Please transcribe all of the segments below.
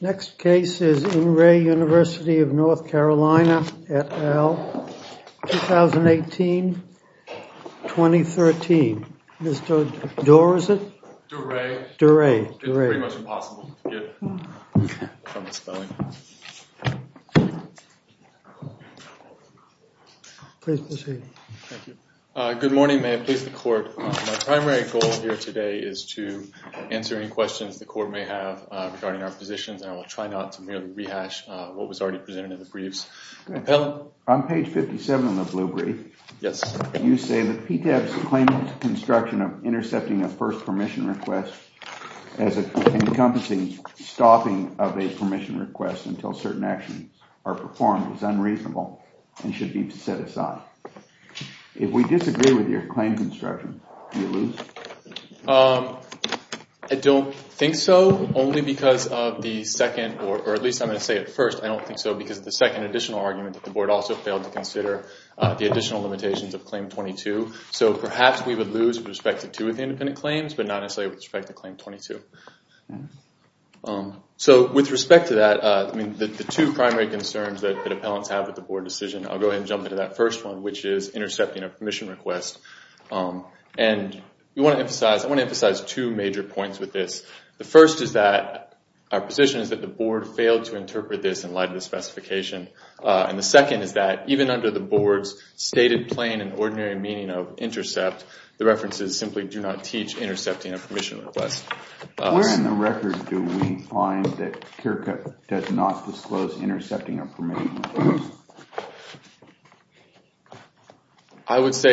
Next case is In Re University of North Carolina, et al., 2018-2013. Mr. Durey, it's pretty much impossible to get from the spelling. Good morning, may I please the court. My primary goal here today is to answer any questions the court may have regarding our positions and I will try not to merely rehash what was already presented in the briefs. On page 57 of the blue brief, you say that PTAB's claim to construction of intercepting a first permission request as an encompassing stopping of a permission request until certain actions are performed is unreasonable and should be set aside. If we disagree with your claim to construction, do you lose? I don't think so. Only because of the second or at least I'm going to say at first I don't think so because the second additional argument that the board also failed to consider the additional limitations of claim 22. So perhaps we would lose with respect to two of the independent claims but not necessarily with respect to claim 22. So with respect to that, the two primary concerns that the appellants have with the board decision, I'll go ahead and jump into that first one which is intercepting a permission request. And I want to emphasize two major points with this. The first is that our position is that the board failed to interpret this in light of the specification. And the second is that even under the board's stated plain and ordinary meaning of intercept, the references simply do not teach intercepting a permission request. Where in the record do we find that Kirkup does not disclose intercepting a permission request? I'm going to tell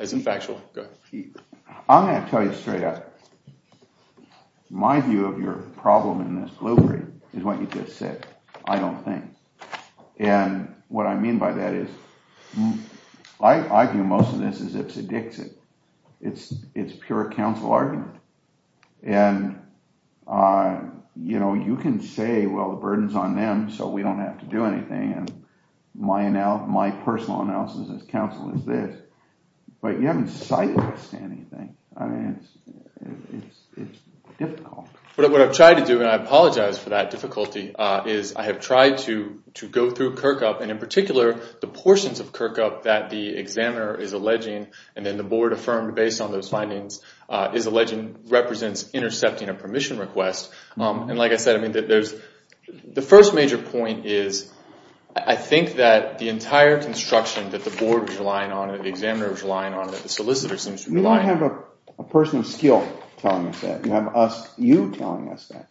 you straight up. My view of your problem in this blueprint is what you just said. I don't think. And what I mean by that is I view most of this as if it's a Dixit. It's pure counsel argument. And you can say, well, the burden's on them so we don't have to do anything. And my personal analysis as counsel is this. But you haven't cited us to anything. I mean, it's difficult. But what I've tried to do, and I apologize for that difficulty, is I have tried to go through Kirkup and in particular the portions of Kirkup that the examiner is alleging and then the board affirmed based on those findings is alleging represents intercepting a permission request. And like I said, the first major point is I think that the entire construction that the board was relying on, that the examiner was relying on, that the solicitor seems to rely on. You have a person of skill telling us that. You have us, you, telling us that.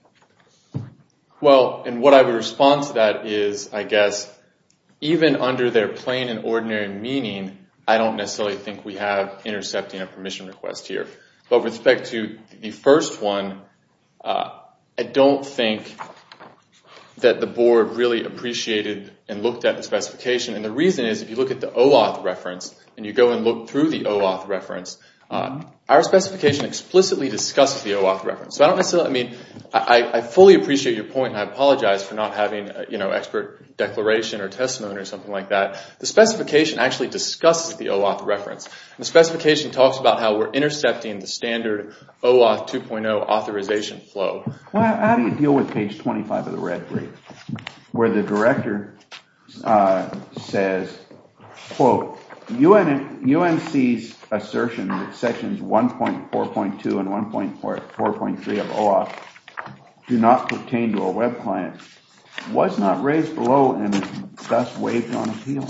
Well, and what I would respond to that is, I guess, even under their plain and ordinary meaning, I don't necessarily think we have intercepting a permission request here. But with respect to the first one, I don't think that the board really appreciated and looked at the specification. And the reason is, if you look at the OAuth reference and you go and look through the OAuth reference, our specification explicitly discusses the OAuth reference. So I fully appreciate your point and I apologize for not having expert declaration or testimony or something like that. The specification actually discusses the OAuth reference. The specification talks about how we're intercepting the standard OAuth 2.0 authorization flow. Well, how do you deal with page 25 of the red brief, where the director says, quote, UNC's assertion that sections 1.4.2 and 1.4.3 of OAuth do not pertain to a web client was not raised below and thus waived on appeal?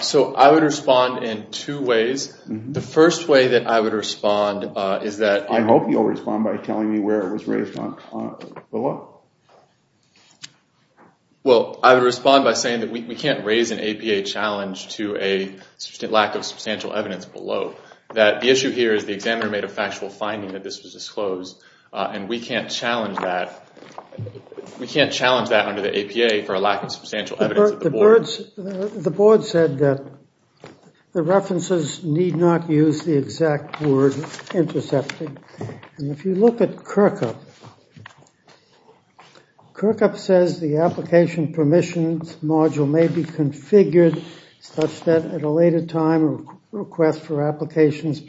So I would respond in two ways. The first way that I would respond is that... I hope you'll respond by telling me where it was raised below. Well, I would respond by saying that we can't raise an APA challenge to a lack of substantial evidence below. That the issue here is the examiner made a factual finding that this was disclosed and we can't challenge that under the APA for a lack of substantial evidence at the board. The board said that the references need not use the exact word intercepting. And if you look at Kirkup, Kirkup says the application permissions module may be configured such that at a later time a request for applications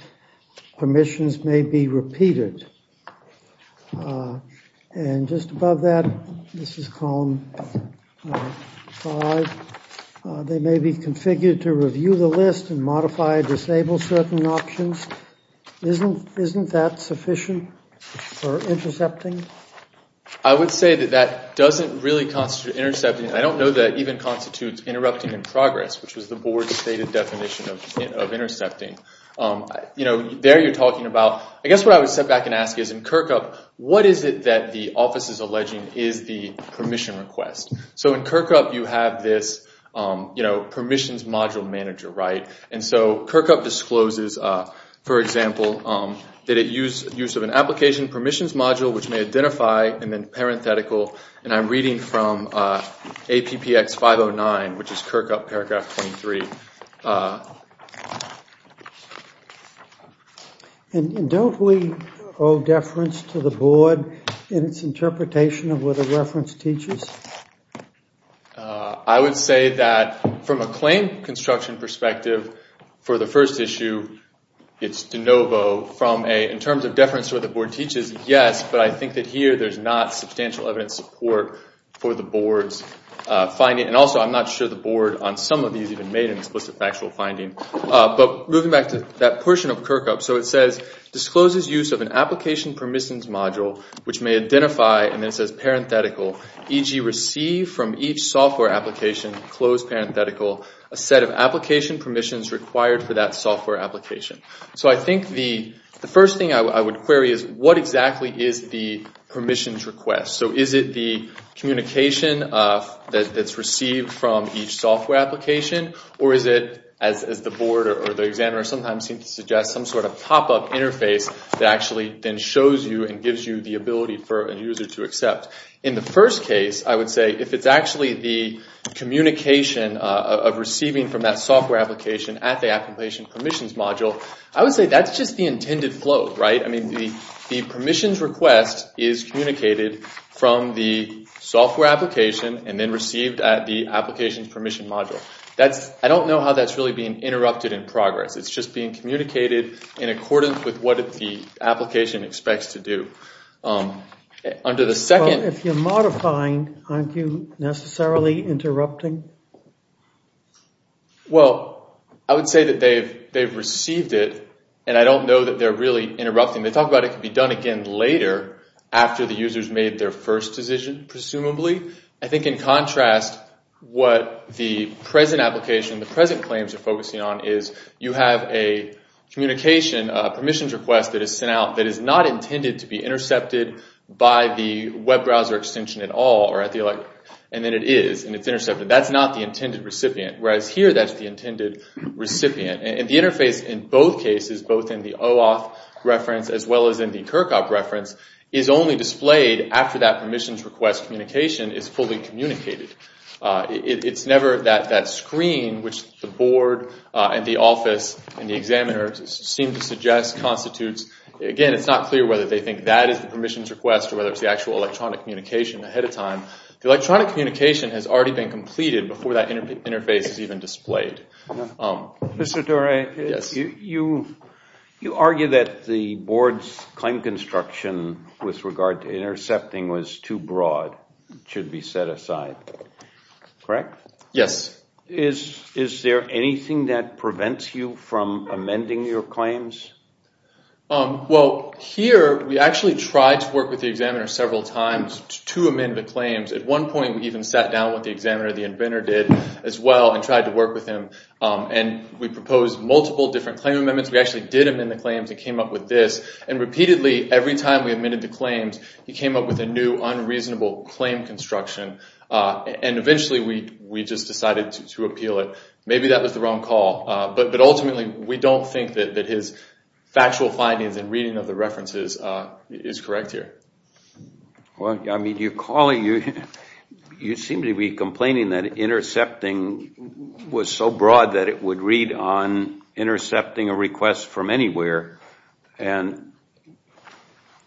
permissions may be repeated. And just above that, this is column 5. They may be configured to review the list and modify or disable certain options. Isn't that sufficient for intercepting? There you're talking about... I guess what I would step back and ask is in Kirkup, what is it that the office is alleging is the permission request? So in Kirkup, you have this permissions module manager, right? And so Kirkup discloses, for example, that it uses an application permissions module which may identify and then parenthetical. And I'm reading from APPX 509, which is Kirkup paragraph 23. And don't we owe deference to the board in its interpretation of what the reference teaches? I would say that from a claim construction perspective for the first issue, it's de novo. In terms of deference to what the board teaches, yes, but I think that here there's not substantial evidence support for the board's finding. And also I'm not sure the board on some of these even made an explicit factual finding. But moving back to that portion of Kirkup, so it says, discloses use of an application permissions module which may identify, and then it says parenthetical, e.g. receive from each software application, close parenthetical, a set of application permissions required for that software application. So I think the first thing I would query is what exactly is the permissions request? So is it the communication that's received from each software application? Or is it, as the board or the examiner sometimes seem to suggest, some sort of pop-up interface that actually then shows you and gives you the ability for a user to accept? In the first case, I would say if it's actually the communication of receiving from that software application at the application permissions module, I would say that's just the intended flow, right? I mean, the permissions request is communicated from the software application and then received at the application permission module. I don't know how that's really being interrupted in progress. It's just being communicated in accordance with what the application expects to do. If you're modifying, aren't you necessarily interrupting? Well, I would say that they've received it, and I don't know that they're really interrupting. They talk about it can be done again later after the user's made their first decision, presumably. I think in contrast, what the present application, the present claims are focusing on is you have a communication permissions request that is sent out that is not intended to be intercepted by the web browser extension at all. And then it is, and it's intercepted. That's not the intended recipient. Whereas here, that's the intended recipient. And the interface in both cases, both in the OAuth reference as well as in the CURCOP reference, is only displayed after that permissions request communication is fully communicated. It's never that screen which the board and the office and the examiner seem to suggest constitutes. Again, it's not clear whether they think that is the permissions request or whether it's the actual electronic communication ahead of time. The electronic communication has already been completed before that interface is even displayed. Mr. Dore, you argue that the board's claim construction with regard to intercepting was too broad, should be set aside, correct? Yes. Is there anything that prevents you from amending your claims? Well, here, we actually tried to work with the examiner several times to amend the claims. At one point, we even sat down with the examiner, the inventor did as well, and tried to work with him. And we proposed multiple different claim amendments. We actually did amend the claims and came up with this. And repeatedly, every time we amended the claims, he came up with a new unreasonable claim construction. And eventually, we just decided to appeal it. Maybe that was the wrong call. But ultimately, we don't think that his factual findings and reading of the references is correct here. Well, I mean, you seem to be complaining that intercepting was so broad that it would read on intercepting a request from anywhere. And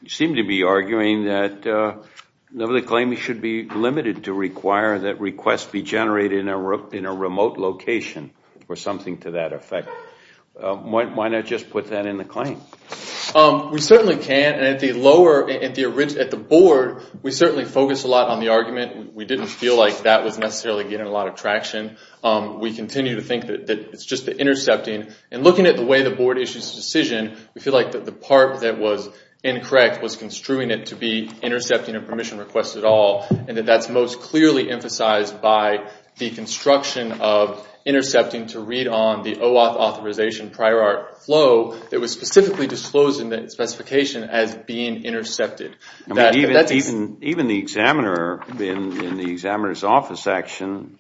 you seem to be arguing that the claim should be limited to require that requests be generated in a remote location or something to that effect. Why not just put that in the claim? We certainly can. And at the lower, at the board, we certainly focused a lot on the argument. We didn't feel like that was necessarily getting a lot of traction. We continue to think that it's just the intercepting. And looking at the way the board issues the decision, we feel like that the part that was incorrect was construing it to be intercepting a permission request at all. And that that's most clearly emphasized by the construction of intercepting to read on the OAuth authorization prior art flow that was specifically disclosed in the specification as being intercepted. Even the examiner in the examiner's office action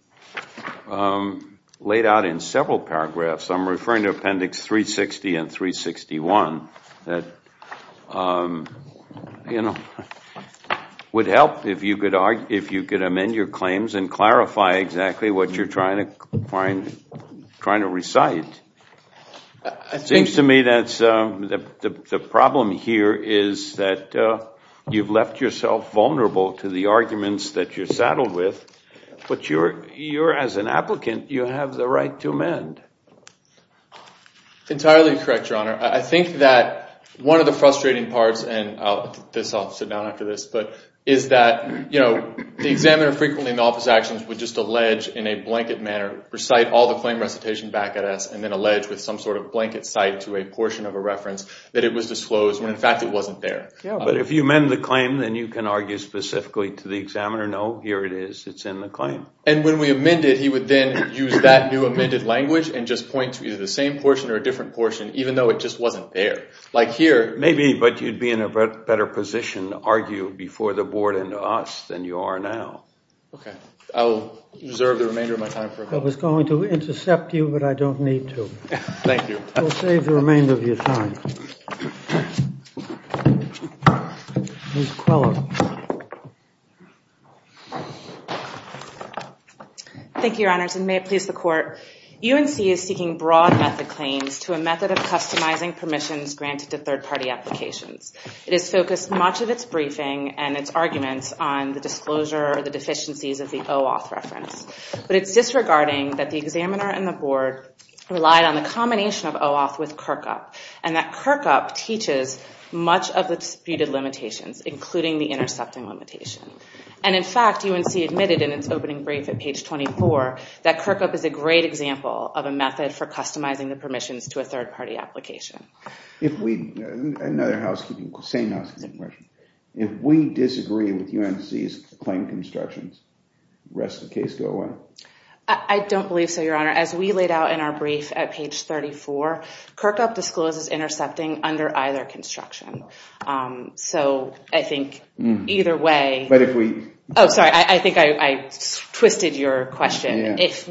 laid out in several paragraphs, I'm referring to appendix 360 and 361, that would help if you could amend your claims and clarify exactly what you're trying to find, trying to recite. It seems to me that the problem here is that you've left yourself vulnerable to the arguments that you're saddled with. But you're, as an applicant, you have the right to amend. Entirely correct, Your Honor. I think that one of the frustrating parts, and I'll sit down after this, is that the examiner frequently in the office actions would just allege in a blanket manner, recite all the claim recitation back at us and then allege with some sort of blanket cite to a portion of a reference that it was disclosed when in fact it wasn't there. But if you amend the claim, then you can argue specifically to the examiner, no, here it is, it's in the claim. And when we amend it, he would then use that new amended language and just point to either the same portion or a different portion, even though it just wasn't there. Like here. Maybe, but you'd be in a better position to argue before the board and us than you are now. Okay, I'll reserve the remainder of my time. I was going to intercept you, but I don't need to. Thank you. We'll save the remainder of your time. Ms. Quello. Thank you, Your Honors, and may it please the Court. UNC is seeking broad method claims to a method of customizing permissions granted to third party applications. It has focused much of its briefing and its arguments on the disclosure or the deficiencies of the OAuth reference. But it's disregarding that the examiner and the board relied on the combination of OAuth with Kirkup. And that Kirkup teaches much of the disputed limitations, including the intercepting limitation. And in fact, UNC admitted in its opening brief at page 24 that Kirkup is a great example of a method for customizing the permissions to a third party application. Another housekeeping question. If we disagree with UNC's claim constructions, does the rest of the case go away? I don't believe so, Your Honor. As we laid out in our brief at page 34, Kirkup discloses intercepting under either construction. So I think either way... But if we... Oh, sorry, I think I twisted your question. If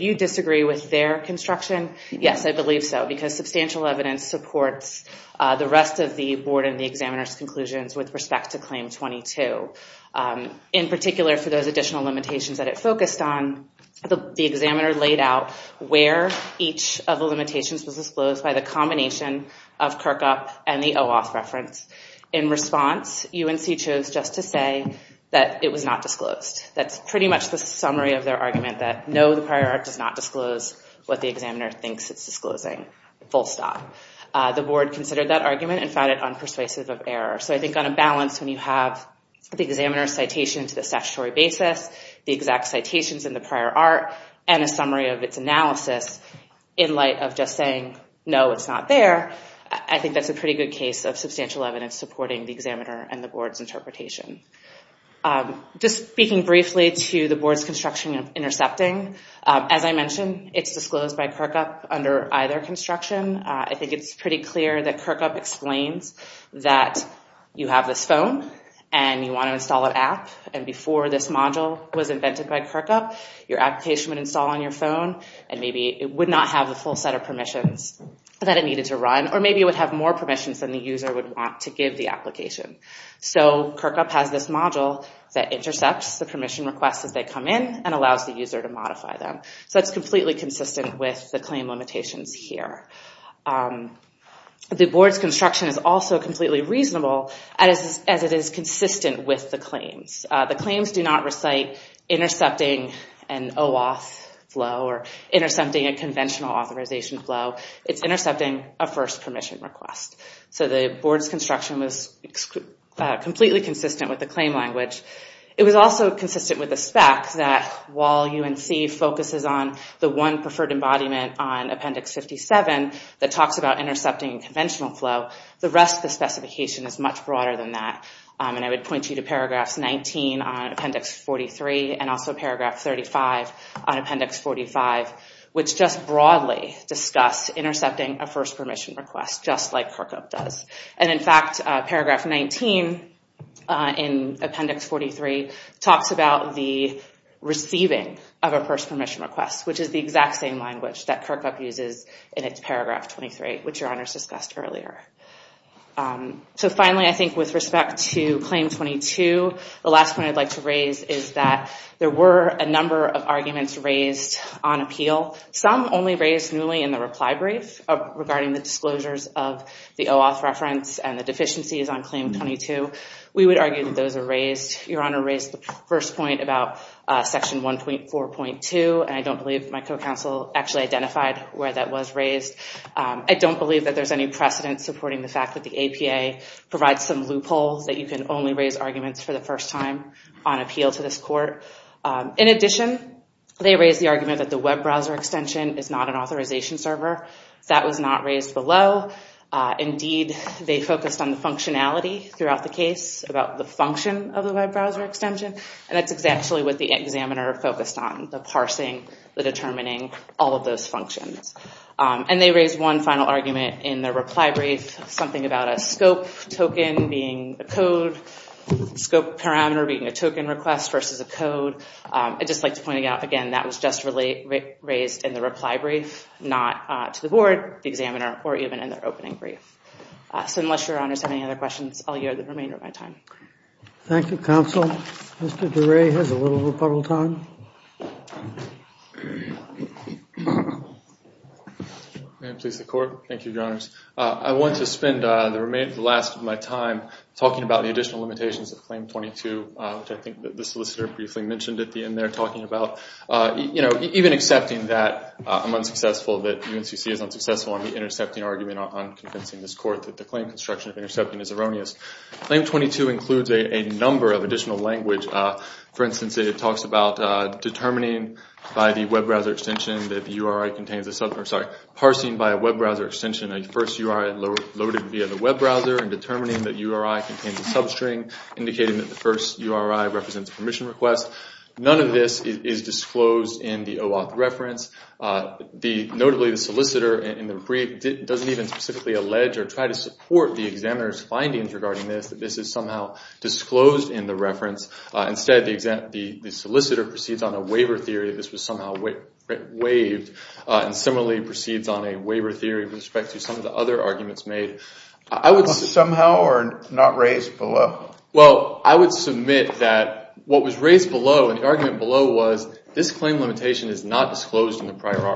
you disagree with their construction, yes, I believe so. Because substantial evidence supports the rest of the board and the examiner's conclusions with respect to Claim 22. In particular, for those additional limitations that it focused on, the examiner laid out where each of the limitations was disclosed by the combination of Kirkup and the OAuth reference. In response, UNC chose just to say that it was not disclosed. That's pretty much the summary of their argument that, no, the prior art does not disclose what the examiner thinks it's disclosing. Full stop. The board considered that argument and found it unpersuasive of error. So I think on a balance, when you have the examiner's citation to the statutory basis, the exact citations in the prior art, and a summary of its analysis in light of just saying, no, it's not there, I think that's a pretty good case of substantial evidence supporting the examiner and the board's interpretation. Just speaking briefly to the board's construction of intercepting, as I mentioned, it's disclosed by Kirkup under either construction. I think it's pretty clear that Kirkup explains that you have this phone and you want to install an app, and before this module was invented by Kirkup, your application would install on your phone and maybe it would not have the full set of permissions that it needed to run, or maybe it would have more permissions than the user would want to give the application. So Kirkup has this module that intercepts the permission requests as they come in and allows the user to modify them. So it's completely consistent with the claim limitations here. The board's construction is also completely reasonable as it is consistent with the claims. The claims do not recite intercepting an OAuth flow or intercepting a conventional authorization flow. It's intercepting a first permission request. So the board's construction was completely consistent with the claim language. It was also consistent with the spec that while UNC focuses on the one preferred embodiment on Appendix 57 that talks about intercepting a conventional flow, the rest of the specification is much broader than that. I would point you to paragraphs 19 on Appendix 43 and also paragraph 35 on Appendix 45, which just broadly discuss intercepting a first permission request, just like Kirkup does. And in fact, paragraph 19 in Appendix 43 talks about the receiving of a first permission request, which is the exact same language that Kirkup uses in its paragraph 23, which your honors discussed earlier. So finally, I think with respect to Claim 22, the last point I'd like to raise is that there were a number of arguments raised on appeal, some only raised newly in the reply brief regarding the disclosures of the OAuth reference and the deficiencies on Claim 22. We would argue that those are raised. Your honor raised the first point about Section 1.4.2, and I don't believe my co-counsel actually identified where that was raised. I don't believe that there's any precedent supporting the fact that the APA provides some loopholes that you can only raise arguments for the first time on appeal to this court. In addition, they raised the argument that the web browser extension is not an authorization server. That was not raised below. Indeed, they focused on the functionality throughout the case about the function of the web browser extension, and that's exactly what the examiner focused on, the parsing, the determining, all of those functions. And they raised one final argument in the reply brief, something about a scope token being a code, scope parameter being a token request versus a code. I'd just like to point out, again, that was just raised in the reply brief, not to the board, the examiner, or even in their opening brief. So unless your honors have any other questions, I'll yield the remainder of my time. Thank you, counsel. Mr. DeRay has a little rebuttal time. May I please the court? Thank you, your honors. I want to spend the last of my time talking about the additional limitations of Claim 22, which I think the solicitor briefly mentioned at the end there, talking about, you know, even accepting that I'm unsuccessful, that UNCC is unsuccessful on the intercepting argument on convincing this court that the claim construction of intercepting is erroneous. Claim 22 includes a number of additional language. For instance, it talks about determining by the web browser extension that the URI contains a sub, sorry, parsing by a web browser extension, a first URI loaded via the web browser, and determining that URI contains a substring, indicating that the first URI represents a permission request. None of this is disclosed in the OAuth reference. Notably, the solicitor in the brief doesn't even specifically allege or try to support the examiner's findings regarding this, that this is somehow disclosed in the reference. Instead, the solicitor proceeds on a waiver theory that this was somehow waived, and similarly proceeds on a waiver theory with respect to some of the other arguments made. Somehow or not raised below? Well, I would submit that what was raised below and the argument below was this claim limitation is not disclosed in the prior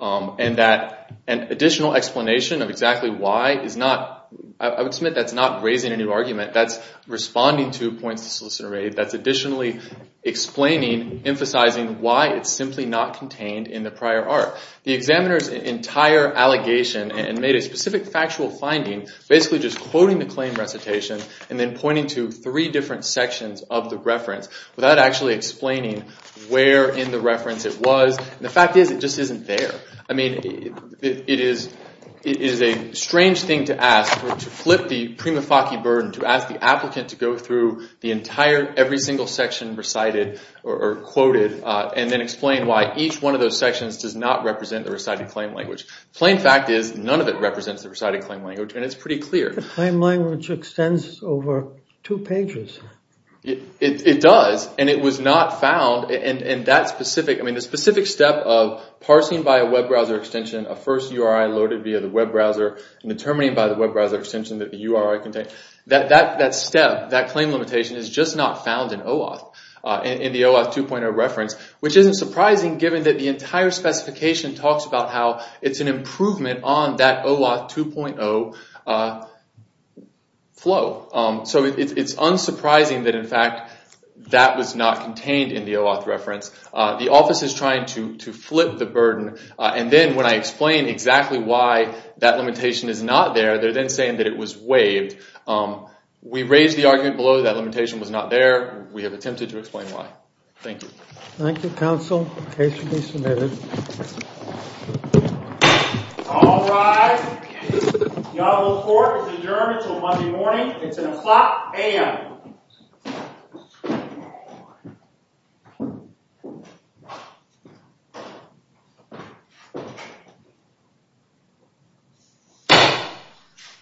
art, and that an additional explanation of exactly why is not, I would submit that's not raising a new argument. That's responding to points to solicitor aid. That's additionally explaining, emphasizing why it's simply not contained in the prior art. The examiner's entire allegation and made a specific factual finding, basically just quoting the claim recitation and then pointing to three different sections of the reference without actually explaining where in the reference it was. The fact is it just isn't there. I mean, it is a strange thing to ask, to flip the prima facie burden, to ask the applicant to go through the entire, every single section recited or quoted, and then explain why each one of those sections does not represent the recited claim language. Plain fact is none of it represents the recited claim language, and it's pretty clear. The claim language extends over two pages. It does, and it was not found. The specific step of parsing by a web browser extension, a first URI loaded via the web browser, and determining by the web browser extension that the URI contained, that step, that claim limitation is just not found in OAuth, in the OAuth 2.0 reference, which isn't surprising given that the entire specification talks about how it's an improvement on that OAuth 2.0 flow. So it's unsurprising that, in fact, that was not contained in the OAuth reference. The office is trying to flip the burden, and then when I explain exactly why that limitation is not there, they're then saying that it was waived. We raised the argument below that limitation was not there. We have attempted to explain why. Thank you. Thank you, counsel. The case will be submitted. All rise. The honorable court is adjourned until Monday morning. It's an o'clock a.m.